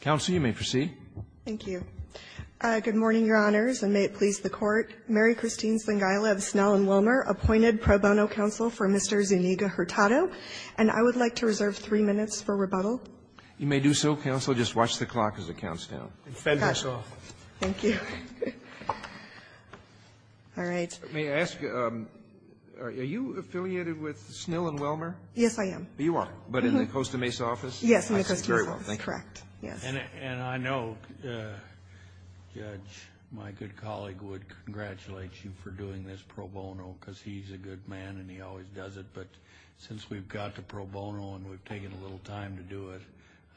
Counsel, you may proceed. Thank you. Good morning, Your Honors, and may it please the Court. Mary Christine Zingaila of Snell & Wellmer appointed pro bono counsel for Mr. Zuniga-Hurtado. And I would like to reserve three minutes for rebuttal. You may do so, counsel. Just watch the clock as it counts down. And fend us off. Thank you. All right. May I ask, are you affiliated with Snell & Wellmer? Yes, I am. You are. But in the Costa Mesa office? Yes, in the Costa Mesa office, correct, yes. And I know, Judge, my good colleague would congratulate you for doing this pro bono, because he's a good man and he always does it. But since we've got the pro bono and we've taken a little time to do it,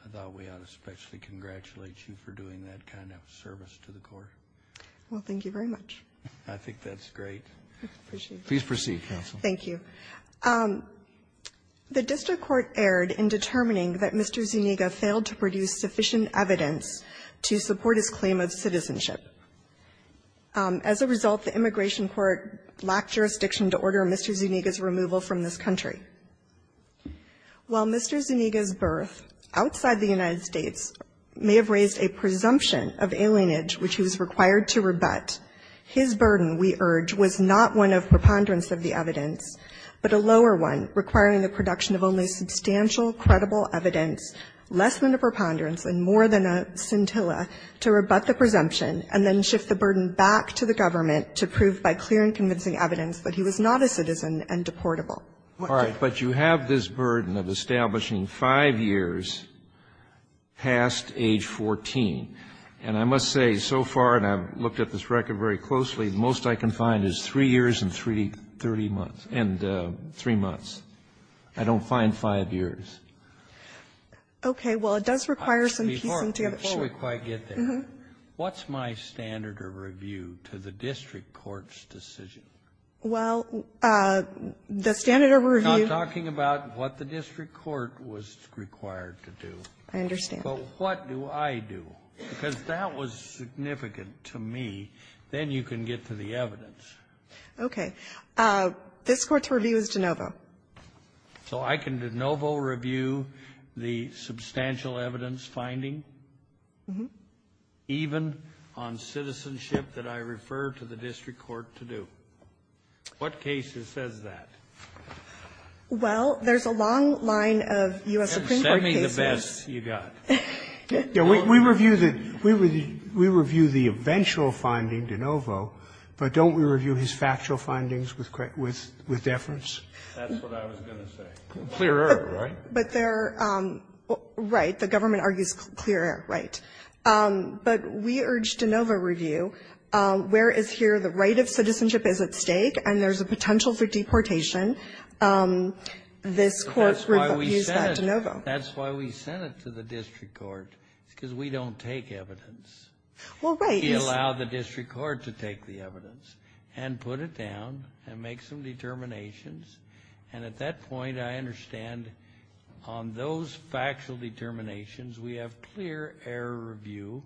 I thought we ought to especially congratulate you for doing that kind of service to the Court. Well, thank you very much. I think that's great. Please proceed, counsel. Thank you. The district court erred in determining that Mr. Zuniga failed to produce sufficient evidence to support his claim of citizenship. As a result, the immigration court lacked jurisdiction to order Mr. Zuniga's removal from this country. While Mr. Zuniga's birth outside the United States may have raised a presumption of alienage which he was required to rebut, his burden, we urge, was not one of preponderance of the evidence, but a lower one requiring the production of only substantial, credible evidence less than a preponderance and more than a scintilla to rebut the presumption and then shift the burden back to the government to prove by clear and convincing evidence that he was not a citizen and deportable. All right. But you have this burden of establishing 5 years past age 14. And I must say, so far, and I've looked at this record very closely, the most I can find is 3 months, and 3 months. I don't find 5 years. Okay. Well, it does require some piecing together. Before we quite get there, what's my standard of review to the district court's decision? Well, the standard of review Now, I'm talking about what the district court was required to do. I understand. But what do I do? Because that was significant to me. Then you can get to the evidence. Okay. This Court's review is DeNovo. So I can DeNovo review the substantial evidence finding? Mm-hmm. Even on citizenship that I refer to the district court to do? What case says that? Well, there's a long line of U.S. Supreme Court cases. Then send me the best you got. We review the we review the eventual finding, DeNovo, but don't we review his factual findings with deference? That's what I was going to say. Clearer, right? But there are Right. The government argues clearer, right. But we urge DeNovo review. Where is here the right of citizenship is at stake, and there's a potential for deportation. This Court reviews that DeNovo. That's why we sent it to the district court, because we don't take evidence. Well, right. We allow the district court to take the evidence and put it down and make some determinations. And at that point, I understand on those factual determinations, we have clear error review,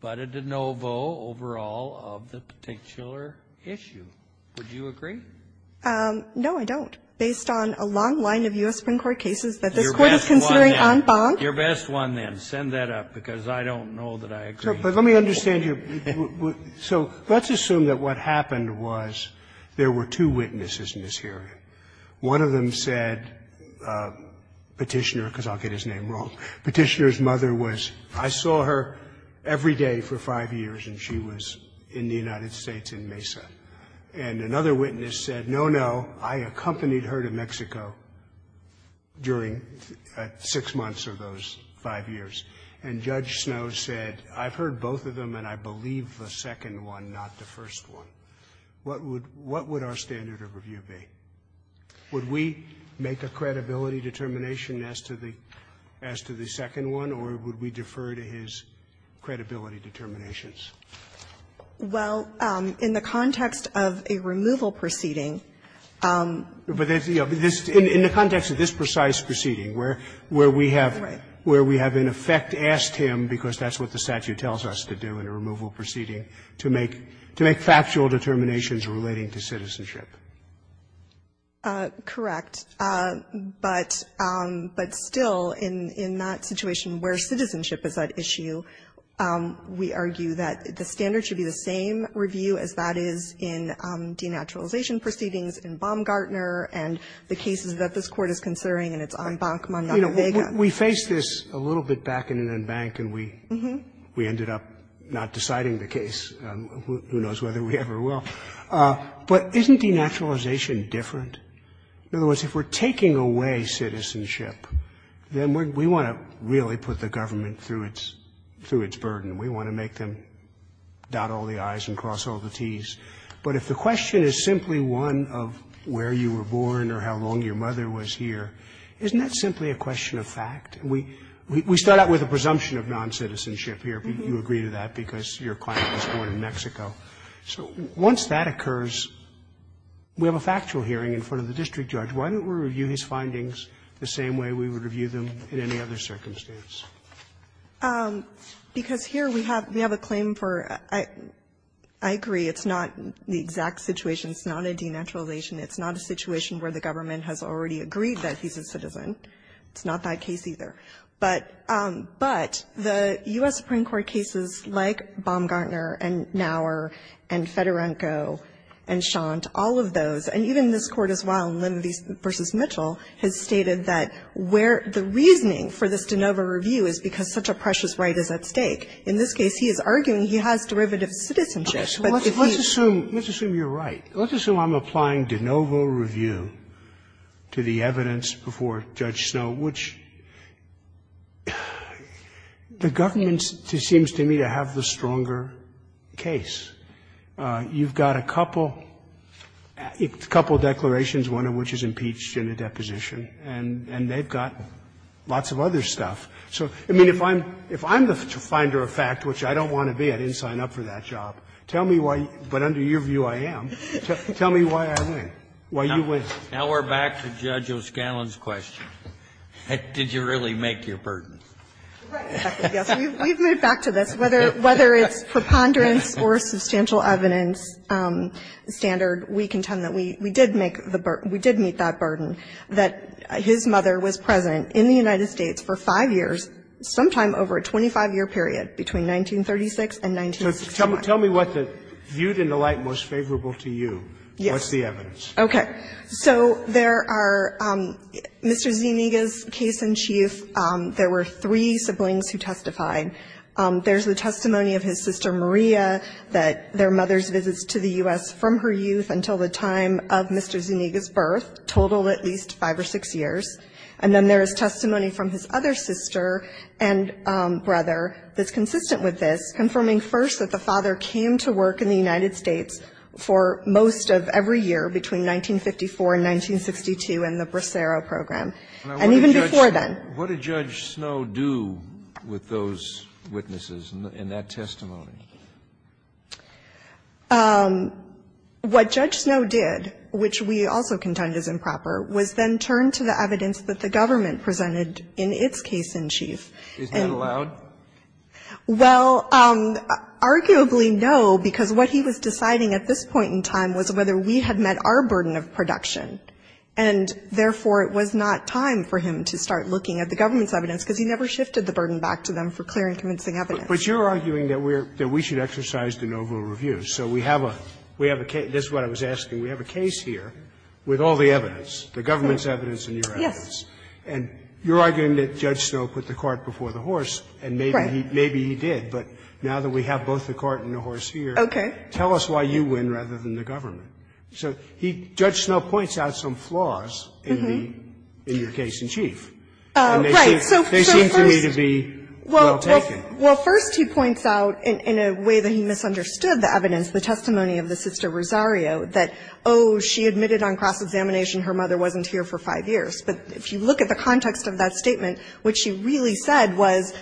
but a DeNovo over all of the particular issue. Would you agree? No, I don't, based on a long line of U.S. Supreme Court cases that this Court is considering en banc. Your best one, then. Send that up, because I don't know that I agree. But let me understand here. So let's assume that what happened was there were two witnesses in this hearing. One of them said Petitioner, because I'll get his name wrong. Petitioner's mother was – I saw her every day for 5 years, and she was in the United States in Mesa. And another witness said, no, no, I accompanied her to Mexico during 6 months of those 5 years. And Judge Snowe said, I've heard both of them and I believe the second one, not the first one. What would – what would our standard of review be? Would we make a credibility determination as to the – as to the second one, or would we defer to his credibility determinations? Well, in the context of a removal proceeding – But this – in the context of this precise proceeding, where we have – Right. Where we have, in effect, asked him, because that's what the statute tells us to do in a removal proceeding, to make – to make factual determinations relating to citizenship. Correct. But – but still, in – in that situation where citizenship is at issue, we argue that the standard should be the same review as that is in denaturalization proceedings, in Baumgartner, and the cases that this Court is considering and it's on Bankman v. Vega. We faced this a little bit back in an embank and we – we ended up not deciding the case. Who knows whether we ever will. But isn't denaturalization different? In other words, if we're taking away citizenship, then we want to really put the government through its – through its burden. We want to make them dot all the i's and cross all the t's. But if the question is simply one of where you were born or how long your mother was here, isn't that simply a question of fact? We – we start out with a presumption of noncitizenship here. You agree to that because your client was born in Mexico. So once that occurs, we have a factual hearing in front of the district judge. Why don't we review his findings the same way we would review them in any other circumstance? Because here we have – we have a claim for – I agree. It's not the exact situation. It's not a denaturalization. It's not a situation where the government has already agreed that he's a citizen. It's not that case either. But – but the U.S. Supreme Court cases like Baumgartner and Naur and Fedorenko and Schant, all of those, and even this Court as well, in Limvese v. Mitchell, has stated that where the reasoning for this de novo review is because such a precious right is at stake. In this case, he is arguing he has derivative citizenship, but if he – Robertson, let's assume – let's assume you're right. Let's assume I'm applying de novo review to the evidence before Judge Snowe, which the government seems to me to have the stronger case. You've got a couple – a couple declarations, one of which is impeached in a deposition, and they've got lots of other stuff. So, I mean, if I'm – if I'm the finder of fact, which I don't want to be, I didn't sign up for that job, tell me why – but under your view, I am. Tell me why I win, why you win. Now, we're back to Judge O'Scallon's question. Did you really make your burden? We've moved back to this. Whether it's preponderance or substantial evidence standard, we contend that we did make the burden. We did meet that burden, that his mother was President in the United States for 5 years, sometime over a 25-year period, between 1936 and 1961. So tell me what the – viewed in the light most favorable to you. Yes. What's the evidence? Okay. So there are – Mr. Zuniga's case in chief, there were three siblings who testified. There's the testimony of his sister Maria, that their mother's visits to the U.S. from her youth until the time of Mr. Zuniga's birth, total at least 5 or 6 years. And then there is testimony from his other sister and brother that's consistent with this, confirming first that the father came to work in the United States for most of every year between 1954 and 1962 in the Bracero Program, and even before then. What did Judge Snow do with those witnesses in that testimony? What Judge Snow did, which we also contend is improper, was then turn to the evidence that the government presented in its case in chief. Isn't that allowed? Well, arguably no, because what he was deciding at this point in time was whether we had met our burden of production, and therefore it was not time for him to start looking at the government's evidence, because he never shifted the burden back to them for clear and convincing evidence. But you're arguing that we're – that we should exercise the novel review. So we have a – we have a case – this is what I was asking. We have a case here with all the evidence, the government's evidence and your evidence. Yes. And you're arguing that Judge Snow put the cart before the horse, and maybe he did. But now that we have both the cart and the horse here, tell us why you win rather than the government. So he – Judge Snow points out some flaws in the – in your case in chief. And they seem to me to be well taken. Well, first he points out, in a way that he misunderstood the evidence, the testimony of the sister Rosario, that, oh, she admitted on cross-examination her mother wasn't here for five years. But if you look at the context of that statement, what she really said was,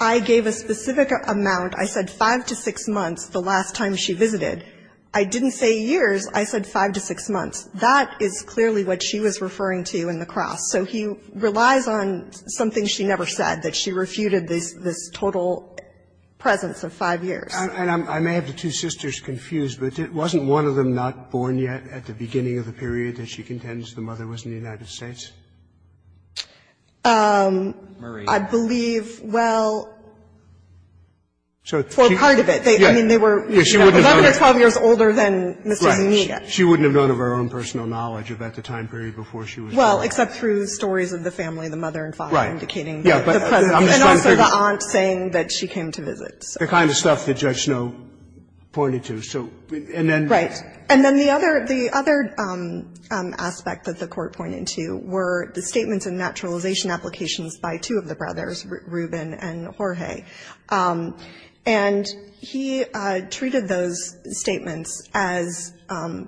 I gave a specific amount, I said five to six months, the last time she visited. I didn't say years, I said five to six months. That is clearly what she was referring to in the cross. So he relies on something she never said, that she refuted this – this total presence of five years. And I may have the two sisters confused, but wasn't one of them not born yet at the same time in the United States? Murray. I believe, well, for part of it, I mean, they were 11 or 12 years older than Ms. Zuniga. She wouldn't have known of her own personal knowledge about the time period before she was born. Well, except through stories of the family, the mother and father indicating the presence. And also the aunt saying that she came to visit. The kind of stuff that Judge Snow pointed to. So, and then – And then the other aspect that the Court pointed to were the statements and naturalization applications by two of the brothers, Ruben and Jorge. And he treated those statements as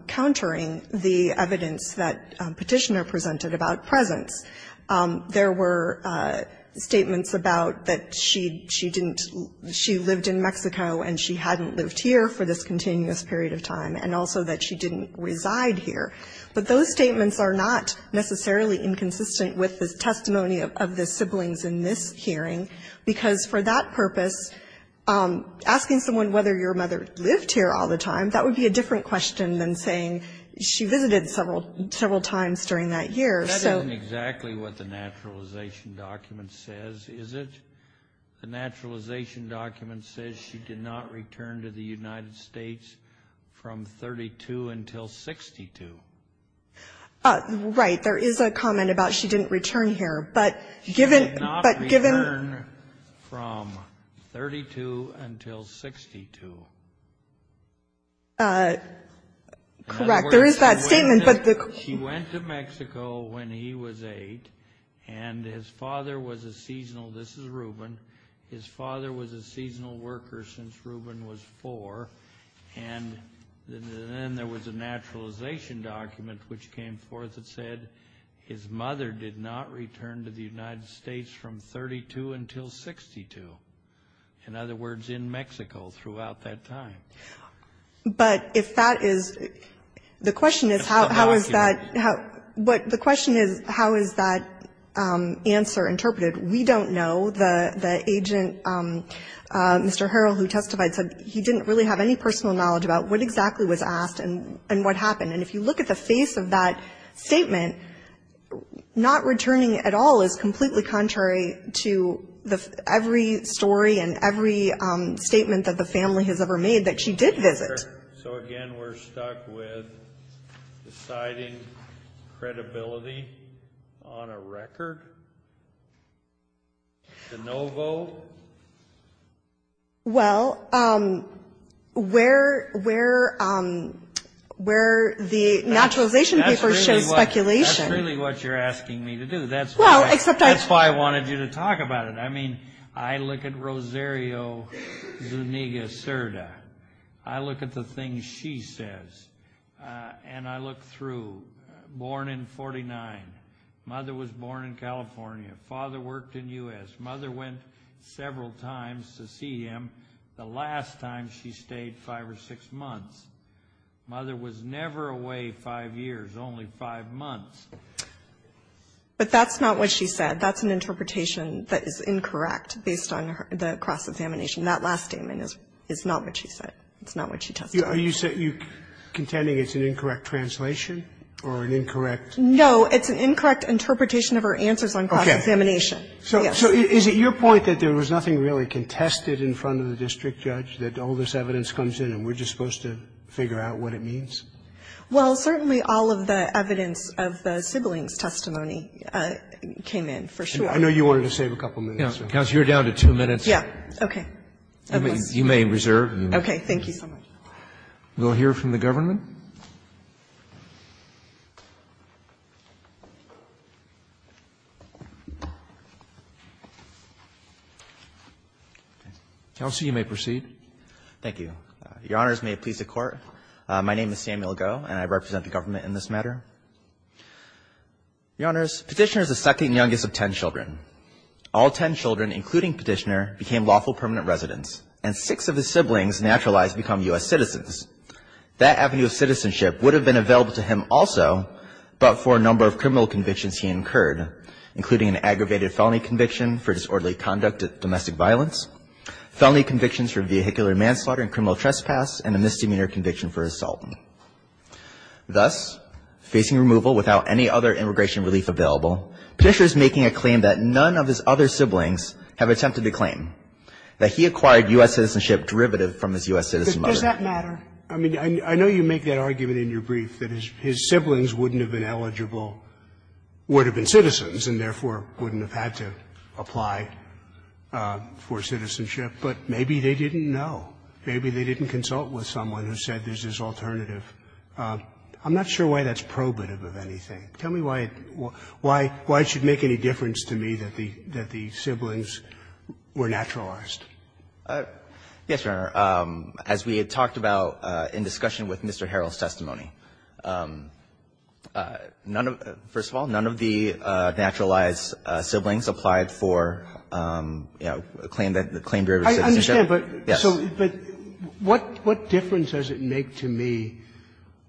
countering the evidence that Petitioner presented about presence. There were statements about that she didn't – she lived in Mexico and she hadn't lived here for this continuous period of time, and also that she didn't reside here. But those statements are not necessarily inconsistent with the testimony of the siblings in this hearing, because for that purpose, asking someone whether your mother lived here all the time, that would be a different question than saying she visited several times during that year. So – That isn't exactly what the naturalization document says, is it? The naturalization document says she did not return to the United States from 1932 until 1962. Right. There is a comment about she didn't return here. But given – She did not return from 1932 until 1962. Correct. There is that statement, but the – She went to Mexico when he was eight, and his father was a seasonal – this is Ruben His father was a seasonal worker since Ruben was four, and then there was a naturalization document which came forth that said his mother did not return to the United States from 1932 until 1962. In other words, in Mexico throughout that time. But if that is – the question is how is that – but the question is how is that answer interpreted? We don't know. The agent, Mr. Harrell, who testified said he didn't really have any personal knowledge about what exactly was asked and what happened. And if you look at the face of that statement, not returning at all is completely contrary to the – every story and every statement that the family has ever made that she did visit. So again, we're stuck with deciding credibility on a record? The no vote? Well, where the naturalization paper shows speculation – That's really what you're asking me to do. That's why – Well, except I – That's why I wanted you to talk about it. I mean, I look at Rosario Zuniga Serda. I look at the things she says. And I look through. Born in 49. Mother was born in California. Father worked in the U.S. Mother went several times to see him. The last time she stayed five or six months. Mother was never away five years, only five months. But that's not what she said. That's an interpretation that is incorrect based on the cross-examination. That last statement is not what she said. It's not what she testified. Are you contending it's an incorrect translation or an incorrect – No, it's an incorrect interpretation of her answers on cross-examination. So is it your point that there was nothing really contested in front of the district judge, that all this evidence comes in and we're just supposed to figure out what it means? Well, certainly all of the evidence of the siblings' testimony came in, for sure. I know you wanted to save a couple minutes. Counsel, you're down to two minutes. Yeah. Okay. You may reserve. Okay. Thank you so much. We'll hear from the government. Counsel, you may proceed. Thank you. Your Honors, may it please the Court. My name is Samuel Goh, and I represent the government in this matter. Your Honors, Petitioner is the second youngest of ten children. All ten children, including Petitioner, became lawful permanent residents, and six of his siblings naturalized to become U.S. citizens. That avenue of citizenship would have been available to him also, but for a number of criminal convictions he incurred, including an aggravated felony conviction for disorderly conduct of domestic violence, felony convictions for vehicular manslaughter and criminal trespass, and a misdemeanor conviction for assault. Thus, facing removal without any other immigration relief available, Petitioner is making a claim that none of his other siblings have attempted the claim, that he acquired U.S. citizenship derivative from his U.S. citizen mother. Does that matter? I mean, I know you make that argument in your brief that his siblings wouldn't have been eligible, would have been citizens, and therefore wouldn't have had to apply for citizenship. But maybe they didn't know. Maybe they didn't consult with someone who said there's this alternative. I'm not sure why that's probative of anything. Tell me why it should make any difference to me that the siblings were naturalized. Yes, Your Honor. As we had talked about in discussion with Mr. Harrell's testimony, first of all, the naturalized siblings applied for, you know, the claim derivative of citizenship. I understand, but what difference does it make to me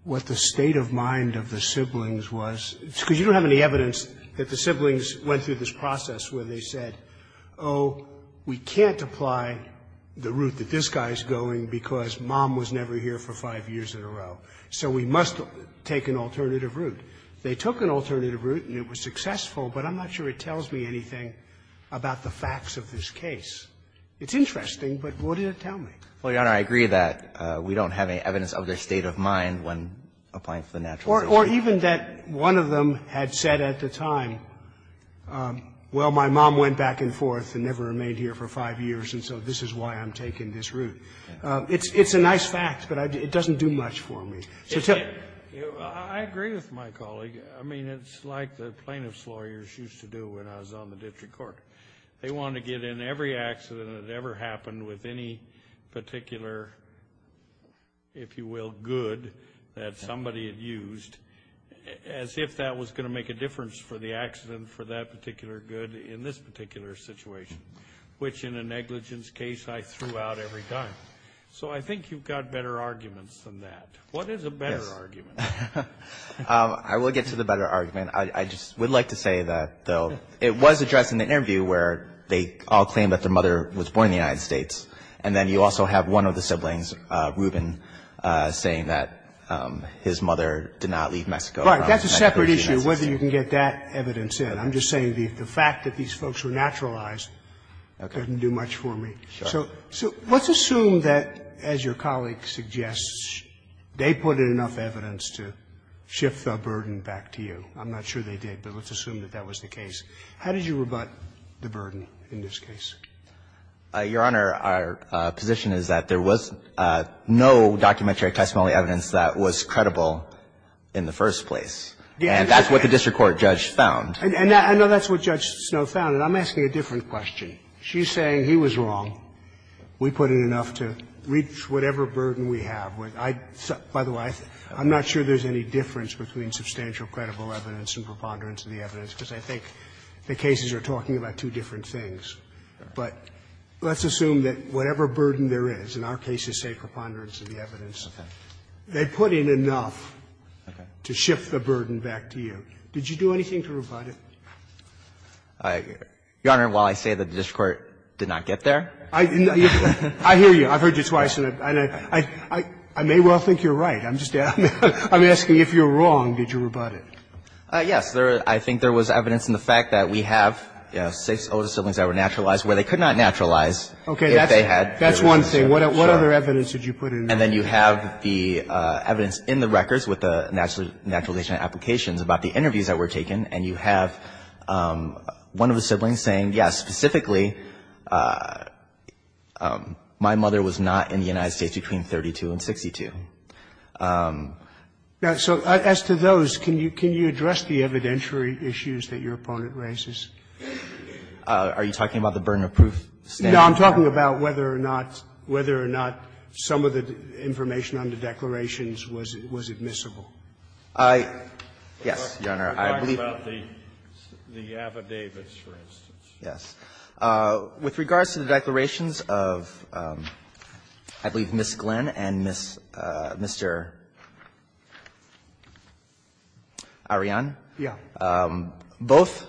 what the state of mind of the siblings was? Because you don't have any evidence that the siblings went through this process where they said, oh, we can't apply the route that this guy is going because mom was never here for five years in a row. So we must take an alternative route. They took an alternative route and it was successful, but I'm not sure it tells me anything about the facts of this case. It's interesting, but what did it tell me? Well, Your Honor, I agree that we don't have any evidence of their state of mind when applying for the naturalization. Or even that one of them had said at the time, well, my mom went back and forth and never remained here for five years, and so this is why I'm taking this route. It's a nice fact, but it doesn't do much for me. I agree with my colleague. I mean, it's like the plaintiff's lawyers used to do when I was on the district court. They wanted to get in every accident that ever happened with any particular, if you will, good that somebody had used, as if that was going to make a difference for the accident for that particular good in this particular situation, which in a negligence case I threw out every time. So I think you've got better arguments than that. What is a better argument? Yes. I will get to the better argument. I just would like to say that, though, it was addressed in the interview where they all claimed that their mother was born in the United States, and then you also have one of the siblings, Ruben, saying that his mother did not leave Mexico. Right. That's a separate issue, whether you can get that evidence in. I'm just saying the fact that these folks were naturalized doesn't do much for me. Sure. So let's assume that, as your colleague suggests, they put in enough evidence to shift the burden back to you. I'm not sure they did, but let's assume that that was the case. How did you rebut the burden in this case? Your Honor, our position is that there was no documentary testimony evidence that was credible in the first place. And that's what the district court judge found. And I know that's what Judge Snow found. And I'm asking a different question. She's saying he was wrong. We put in enough to reach whatever burden we have. By the way, I'm not sure there's any difference between substantial credible evidence and preponderance of the evidence, because I think the cases are talking about two different things. But let's assume that whatever burden there is, and our cases say preponderance of the evidence, they put in enough to shift the burden back to you. Did you do anything to rebut it? Your Honor, while I say that the district court did not get there. I hear you. I've heard you twice. I may well think you're right. I'm just asking if you're wrong, did you rebut it? Yes. I think there was evidence in the fact that we have six older siblings that were naturalized, where they could not naturalize if they had. That's one thing. What other evidence did you put in? And then you have the evidence in the records with the naturalization applications about the interviews that were taken, and you have one of the siblings saying, yes, specifically, my mother was not in the United States between 32 and 62. So as to those, can you address the evidentiary issues that your opponent raises? Are you talking about the burden of proof? No, I'm talking about whether or not some of the information on the declarations was admissible. Yes, Your Honor. I believe that. You're talking about the affidavits, for instance. Yes. With regards to the declarations of, I believe, Ms. Glenn and Mr. Arian. Yes. Both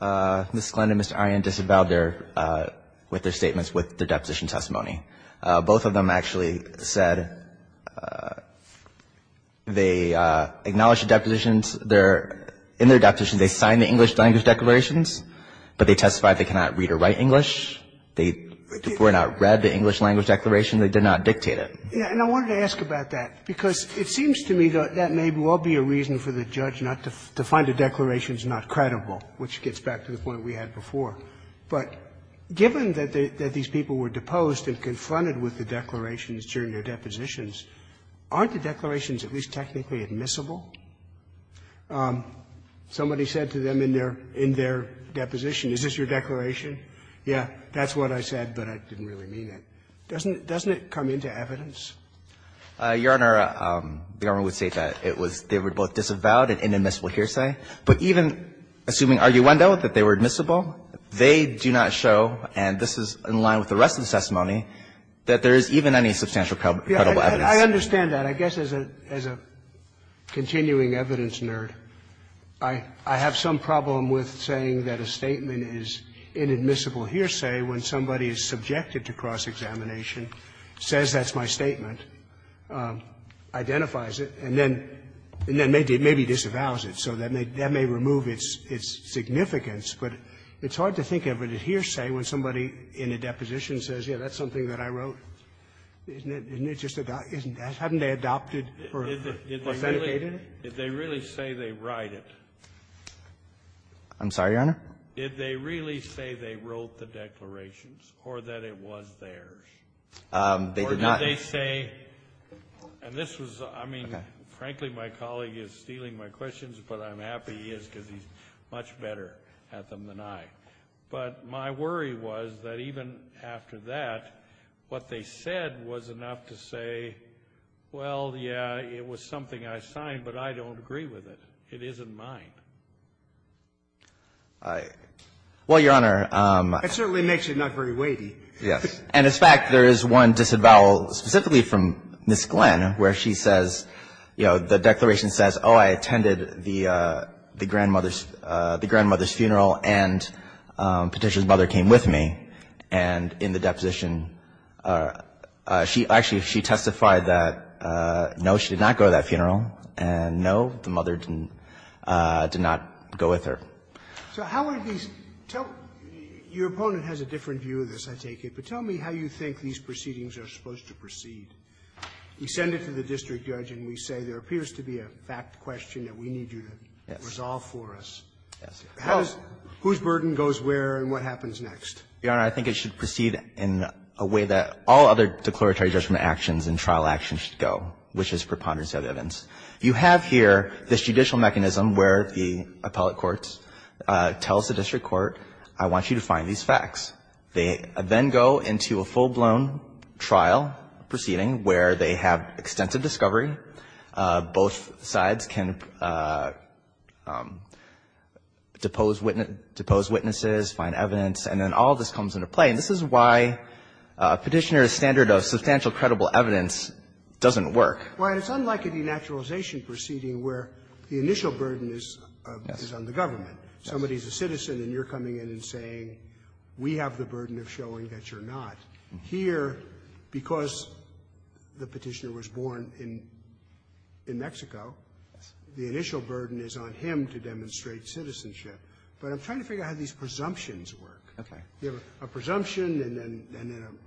Ms. Glenn and Mr. Arian disavowed their – with their statements with their deposition testimony. Both of them actually said they acknowledged the depositions. They're – in their depositions, they signed the English language declarations, but they testified they cannot read or write English. They did not read the English language declaration. They did not dictate it. And I wanted to ask about that, because it seems to me that that may well be a reason for the judge not to find the declarations not credible, which gets back to the point we had before. But given that these people were deposed and confronted with the declarations during their depositions, aren't the declarations at least technically admissible? Somebody said to them in their – in their deposition, is this your declaration? Yeah, that's what I said, but I didn't really mean it. Doesn't it come into evidence? Your Honor, the government would say that it was – they were both disavowed and inadmissible hearsay. But even assuming arguendo, that they were admissible, they do not show, and this is in line with the rest of the testimony, that there is even any substantial credible evidence. I understand that. I guess as a continuing evidence nerd, I have some problem with saying that a statement is inadmissible hearsay when somebody is subjected to cross-examination, says that's my statement, identifies it, and then maybe disavows it. So that may – that may remove its significance, but it's hard to think of a hearsay when somebody in a deposition says, yeah, that's something that I wrote. Isn't it – isn't it just a – hadn't they adopted or syndicated it? Did they really say they write it? I'm sorry, Your Honor? Did they really say they wrote the declarations or that it was theirs? They did not. Or did they say – and this was – I mean, frankly, my colleague is stealing my questions, but I'm happy he is because he's much better at them than I. But my worry was that even after that, what they said was enough to say, well, yeah, it was something I signed, but I don't agree with it. It isn't mine. I – Well, Your Honor, I'm – That certainly makes it not very weighty. Yes. And as a fact, there is one disavowal specifically from Ms. Glenn where she says, you know, the declaration says, oh, I attended the grandmother's – the grandmother's funeral and Petitioner's mother came with me. And in the deposition, she – actually, she testified that, no, she did not go to that funeral, and no, the mother didn't – did not go with her. So how are these – tell – your opponent has a different view of this, I take it. But tell me how you think these proceedings are supposed to proceed. We send it to the district judge and we say, there appears to be a fact question that we need you to resolve for us. Yes. Whose burden goes where and what happens next? Your Honor, I think it should proceed in a way that all other declaratory judgment actions and trial actions should go, which is preponderance of evidence. You have here this judicial mechanism where the appellate courts tell the district court, I want you to find these facts. They then go into a full-blown trial proceeding where they have extensive discovery. Both sides can depose witness – depose witnesses, find evidence, and then all of this comes into play. And this is why Petitioner's standard of substantial credible evidence doesn't work. Well, it's unlike a denaturalization proceeding where the initial burden is on the government. Yes. Somebody's a citizen and you're coming in and saying, we have the burden of showing that you're not. Here, because the Petitioner was born in Mexico, the initial burden is on him to demonstrate citizenship. But I'm trying to figure out how these presumptions work. Okay. You have a presumption and then a –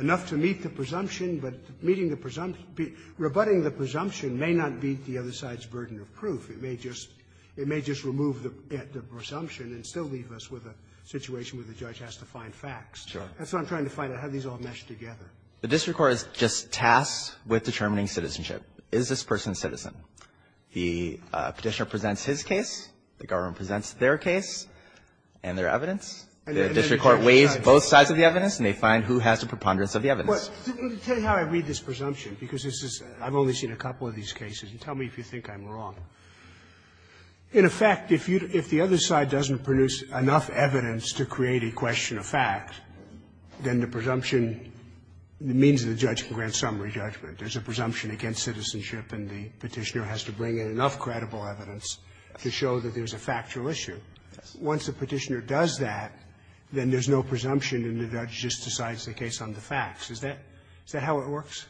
enough to meet the presumption, but meeting the – rebutting the presumption may not beat the other side's burden of proof. It may just – it may just remove the – the presumption and still leave us with a situation where the judge has to find facts. Sure. That's what I'm trying to find out, how these all mesh together. The district court is just tasked with determining citizenship. Is this person a citizen? The Petitioner presents his case, the government presents their case and their evidence. The district court weighs both sides of the evidence and they find who has the preponderance of the evidence. Tell you how I read this presumption, because this is – I've only seen a couple of these cases. Tell me if you think I'm wrong. In effect, if you – if the other side doesn't produce enough evidence to create a question of fact, then the presumption means the judge can grant summary judgment. There's a presumption against citizenship and the Petitioner has to bring in enough credible evidence to show that there's a factual issue. Once the Petitioner does that, then there's no presumption and the judge just decides the case on the facts. Is that – is that how it works?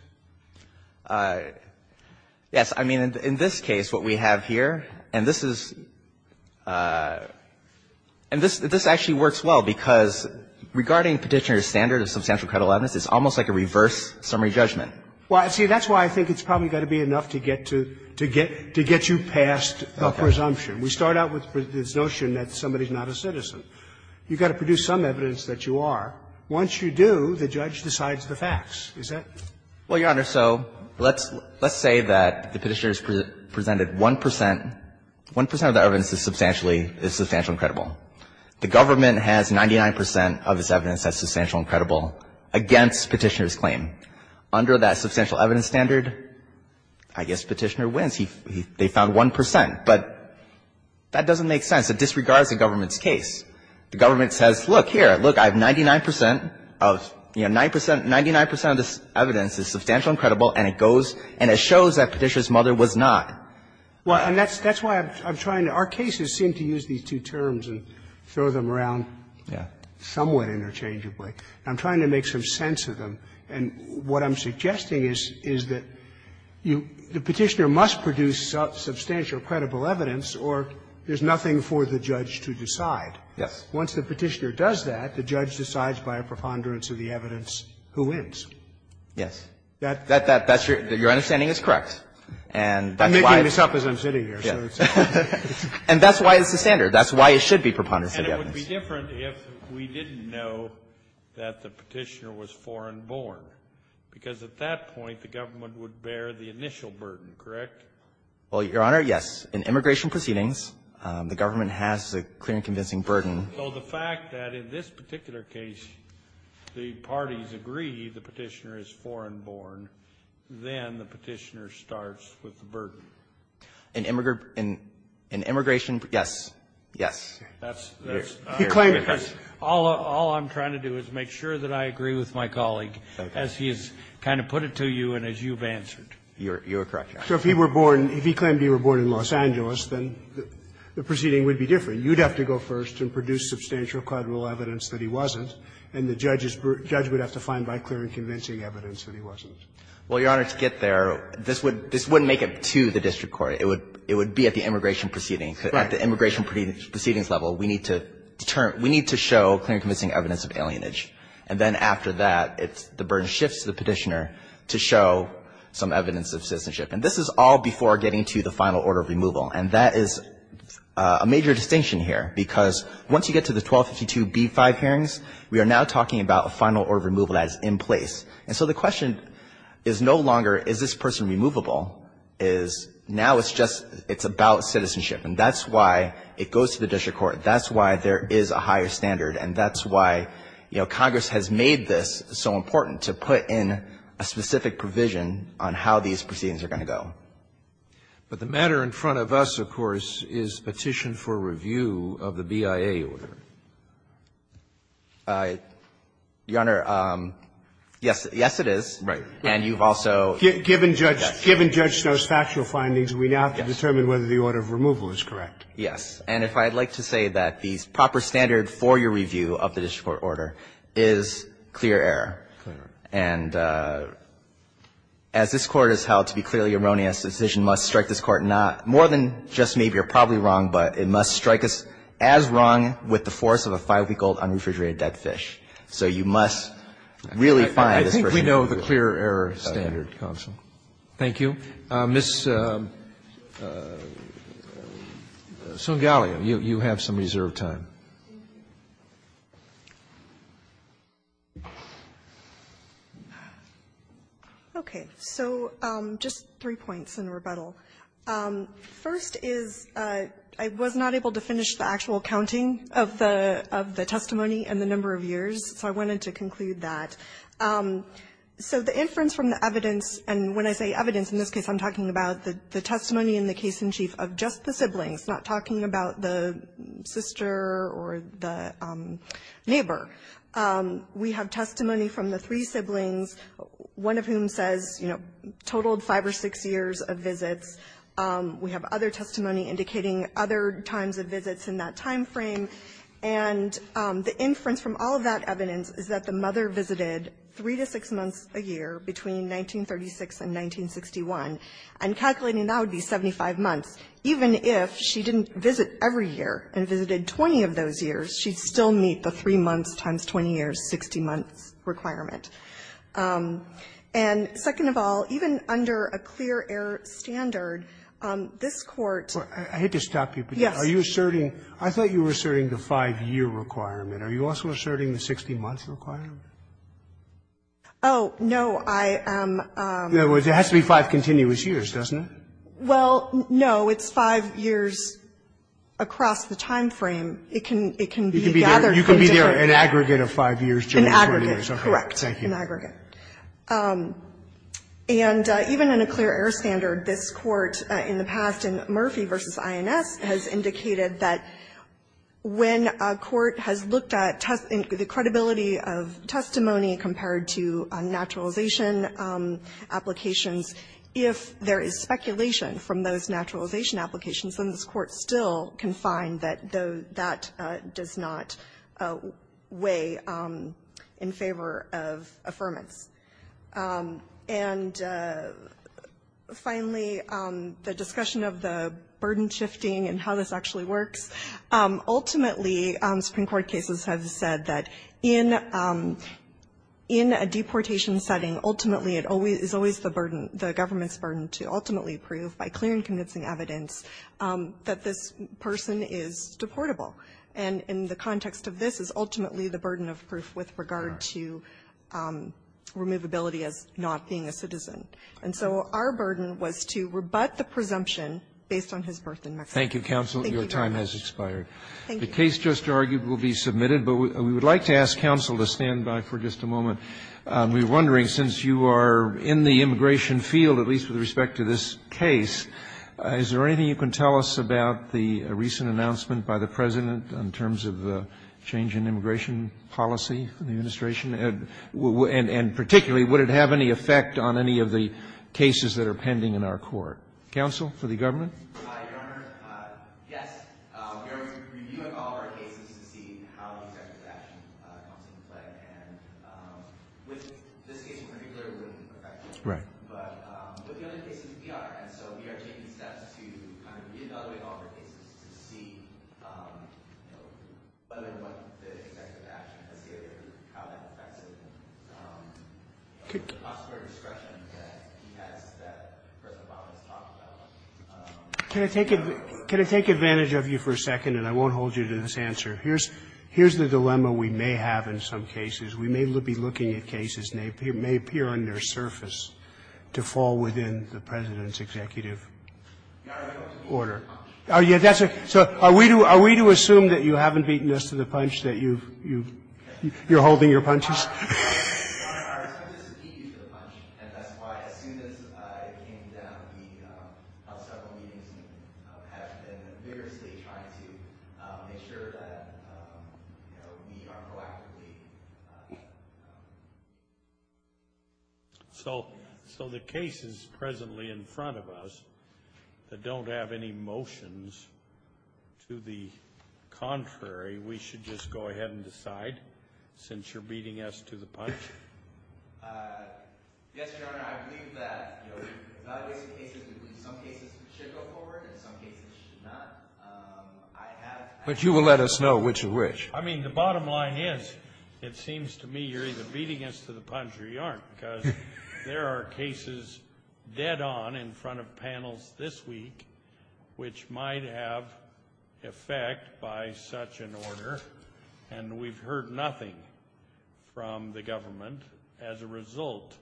Yes. I mean, in this case, what we have here, and this is – and this actually works well, because regarding Petitioner's standard of substantial credible evidence, it's almost like a reverse summary judgment. Well, see, that's why I think it's probably got to be enough to get to – to get you past the presumption. We start out with this notion that somebody's not a citizen. You've got to produce some evidence that you are. Once you do, the judge decides the facts. Is that – Well, Your Honor, so let's – let's say that the Petitioner's presented 1 percent. 1 percent of the evidence is substantially – is substantially credible. The government has 99 percent of its evidence that's substantial and credible against Petitioner's claim. Under that substantial evidence standard, I guess Petitioner wins. He – they found 1 percent. But that doesn't make sense. It disregards the government's case. The government says, look, here, look, I have 99 percent of, you know, 9 percent – 99 percent of this evidence is substantial and credible, and it goes – and it shows that Petitioner's mother was not. Well, and that's – that's why I'm trying to – our cases seem to use these two terms and throw them around somewhat interchangeably. I'm trying to make some sense of them. And what I'm suggesting is – is that you – the Petitioner must produce substantial or credible evidence, or there's nothing for the judge to decide. Yes. Once the Petitioner does that, the judge decides by a preponderance of the evidence who wins. Yes. That – that – that's your – your understanding is correct. And that's why it's the standard. That's why it should be preponderance of the evidence. And it would be different if we didn't know that the Petitioner was foreign-born. Because at that point, the government would bear the initial burden, correct? Well, Your Honor, yes. In immigration proceedings, the government has a clear and convincing burden. So the fact that in this particular case, the parties agree the Petitioner is foreign-born, then the Petitioner starts with the burden. In immigration – in immigration – yes. Yes. That's – that's – He claimed – All – all I'm trying to do is make sure that I agree with my colleague as he has kind of put it to you and as you've answered. You're – you're correct, Your Honor. So if he were born – if he claimed he were born in Los Angeles, then the proceeding would be different. I mean, you'd have to go first and produce substantial credible evidence that he wasn't, and the judge's – judge would have to find by clear and convincing evidence that he wasn't. Well, Your Honor, to get there, this would – this wouldn't make it to the district court. It would – it would be at the immigration proceeding. Right. At the immigration proceedings level, we need to determine – we need to show clear and convincing evidence of alienage. And then after that, it's – the burden shifts to the Petitioner to show some evidence of citizenship. And this is all before getting to the final order of removal. And that is a major distinction here, because once you get to the 1252b-5 hearings, we are now talking about a final order of removal that's in place. And so the question is no longer is this person removable, is now it's just – it's about citizenship. And that's why it goes to the district court. That's why there is a higher standard. And that's why, you know, Congress has made this so important, to put in a specific provision on how these proceedings are going to go. But the matter in front of us, of course, is Petition for Review of the BIA order. I – Your Honor, yes – yes, it is. Right. And you've also – Given Judge – given Judge Stowe's factual findings, we now have to determine whether the order of removal is correct. Yes. And if I'd like to say that the proper standard for your review of the district court order is clear error, and as this Court has held to be clearly erroneous the decision must strike this Court not – more than just maybe or probably wrong, but it must strike us as wrong with the force of a five-week-old unrefrigerated dead fish. So you must really find this person removable. I think we know the clear error standard, counsel. Thank you. Ms. Sungaliu, you have some reserved time. Okay. So just three points in rebuttal. First is I was not able to finish the actual counting of the – of the testimony and the number of years, so I wanted to conclude that. So the inference from the evidence, and when I say evidence, in this case I'm talking about the testimony in the case-in-chief of just the siblings, not talking about the sister or the neighbor. We have testimony from the three siblings, one of whom says, you know, totaled five or six years of visits. We have other testimony indicating other times of visits in that time frame. And the inference from all of that evidence is that the mother visited three to six months a year between 1936 and 1961, and calculating that would be 75 months. Even if she didn't visit every year and visited 20 of those years, she'd still meet the three months times 20 years, 60 months requirement. And second of all, even under a clear error standard, this Court – I hate to stop you, but are you asserting – I thought you were asserting the five-year requirement. Are you also asserting the 60-month requirement? Oh, no. I am – In other words, it has to be five continuous years, doesn't it? Well, no. It's five years across the time frame. It can be gathered from different – You can be there an aggregate of five years, 20 years. An aggregate, correct, an aggregate. And even in a clear error standard, this Court in the past, in Murphy v. INS, has indicated that when a court has looked at the credibility of testimony compared to naturalization applications, if there is speculation from those naturalization applications, then this Court still can find that that does not weigh in favor of affirmance. And finally, the discussion of the burden shifting and how this actually works, ultimately, Supreme Court cases have said that in a deportation setting, ultimately, it is always the burden, the government's burden to ultimately prove by clear and convincing evidence that this person is deportable. And in the context of this is ultimately the burden of proof with regard to removability as not being a citizen. And so our burden was to rebut the presumption based on his birth in Mexico. Thank you, counsel. Your time has expired. Thank you. The case just argued will be submitted. But we would like to ask counsel to stand by for just a moment. We're wondering, since you are in the immigration field, at least with respect to this case, is there anything you can tell us about the recent announcement by the President in terms of the change in immigration policy in the administration? And particularly, would it have any effect on any of the cases that are pending in our court? Counsel, for the government? Your Honor, yes. We are reviewing all of our cases to see how executive action comes into play. And with this case in particular, it would be perfected. Right. But with the other cases, we are. And so we are taking steps to kind of re-evaluate all of our cases to see, you know, whether or not the executive action has any effect on the possible discretion that he has, that President Obama has talked about. Can I take advantage of you for a second? And I won't hold you to this answer. Here's the dilemma we may have in some cases. We may be looking at cases and they may appear on their surface to fall within the President's executive order. Your Honor, I was going to speak to the punch. So are we to assume that you haven't beaten us to the punch, that you're holding your punches? Your Honor, I was going to speak to the punch. And that's why, as soon as it came down, we held several meetings and have been vigorously trying to make sure that, you know, we are proactively... So the cases presently in front of us that don't have any motions to the contrary, we should just go ahead and decide, since you're beating us to the punch? Yes, Your Honor, I believe that, you know, in some cases we should go forward, in some I have... But you will let us know which is which. I mean, the bottom line is, it seems to me you're either beating us to the punch or you aren't, because there are cases dead on in front of panels this week which might have effect by such an order. And we've heard nothing from the government as a result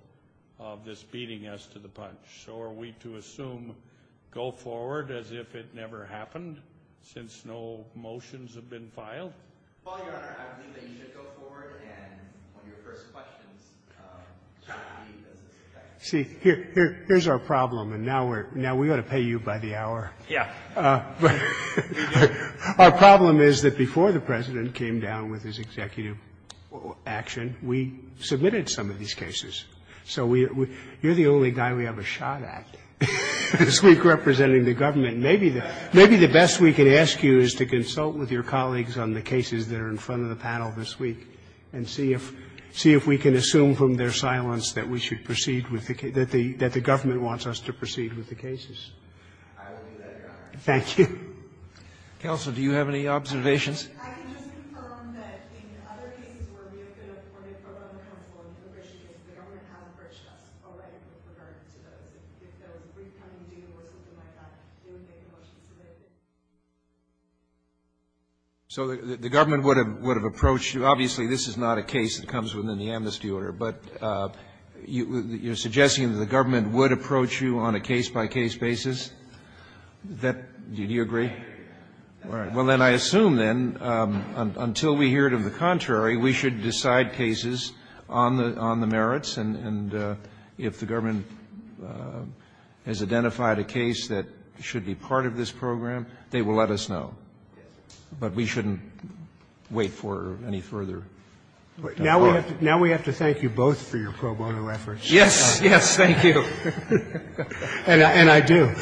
of this beating us to the punch. So are we to assume, go forward, as if it never happened, since no motions have been filed? Well, Your Honor, I believe that you should go forward and, on your first questions, try to leave as a suspect. See, here's our problem. And now we're going to pay you by the hour. Yeah. But our problem is that before the President came down with his executive action, we submitted some of these cases. So you're the only guy we have a shot at this week representing the government. Maybe the best we can ask you is to consult with your colleagues on the cases that are in front of the panel this week and see if we can assume from their silence that we should proceed with the case, that the government wants us to proceed with the cases. I will do that, Your Honor. Thank you. Counsel, do you have any observations? I can just confirm that in other cases where we have been afforded pro bono counsel and appropriations, the government had approached us already with regard to those. If there was a brief coming due or something like that, they would make a motion to raise it. So the government would have approached you. Obviously, this is not a case that comes within the amnesty order. But you're suggesting that the government would approach you on a case-by-case basis? Do you agree? All right. Well, then I assume, then, until we hear it of the contrary, we should decide cases on the merits. And if the government has identified a case that should be part of this program, they will let us know. But we shouldn't wait for any further. Now we have to thank you both for your pro bono efforts. Yes. Yes. Thank you. And I do.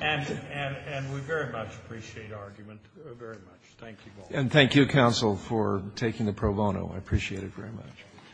And we very much appreciate argument, very much. Thank you both. And thank you, counsel, for taking the pro bono. I appreciate it very much.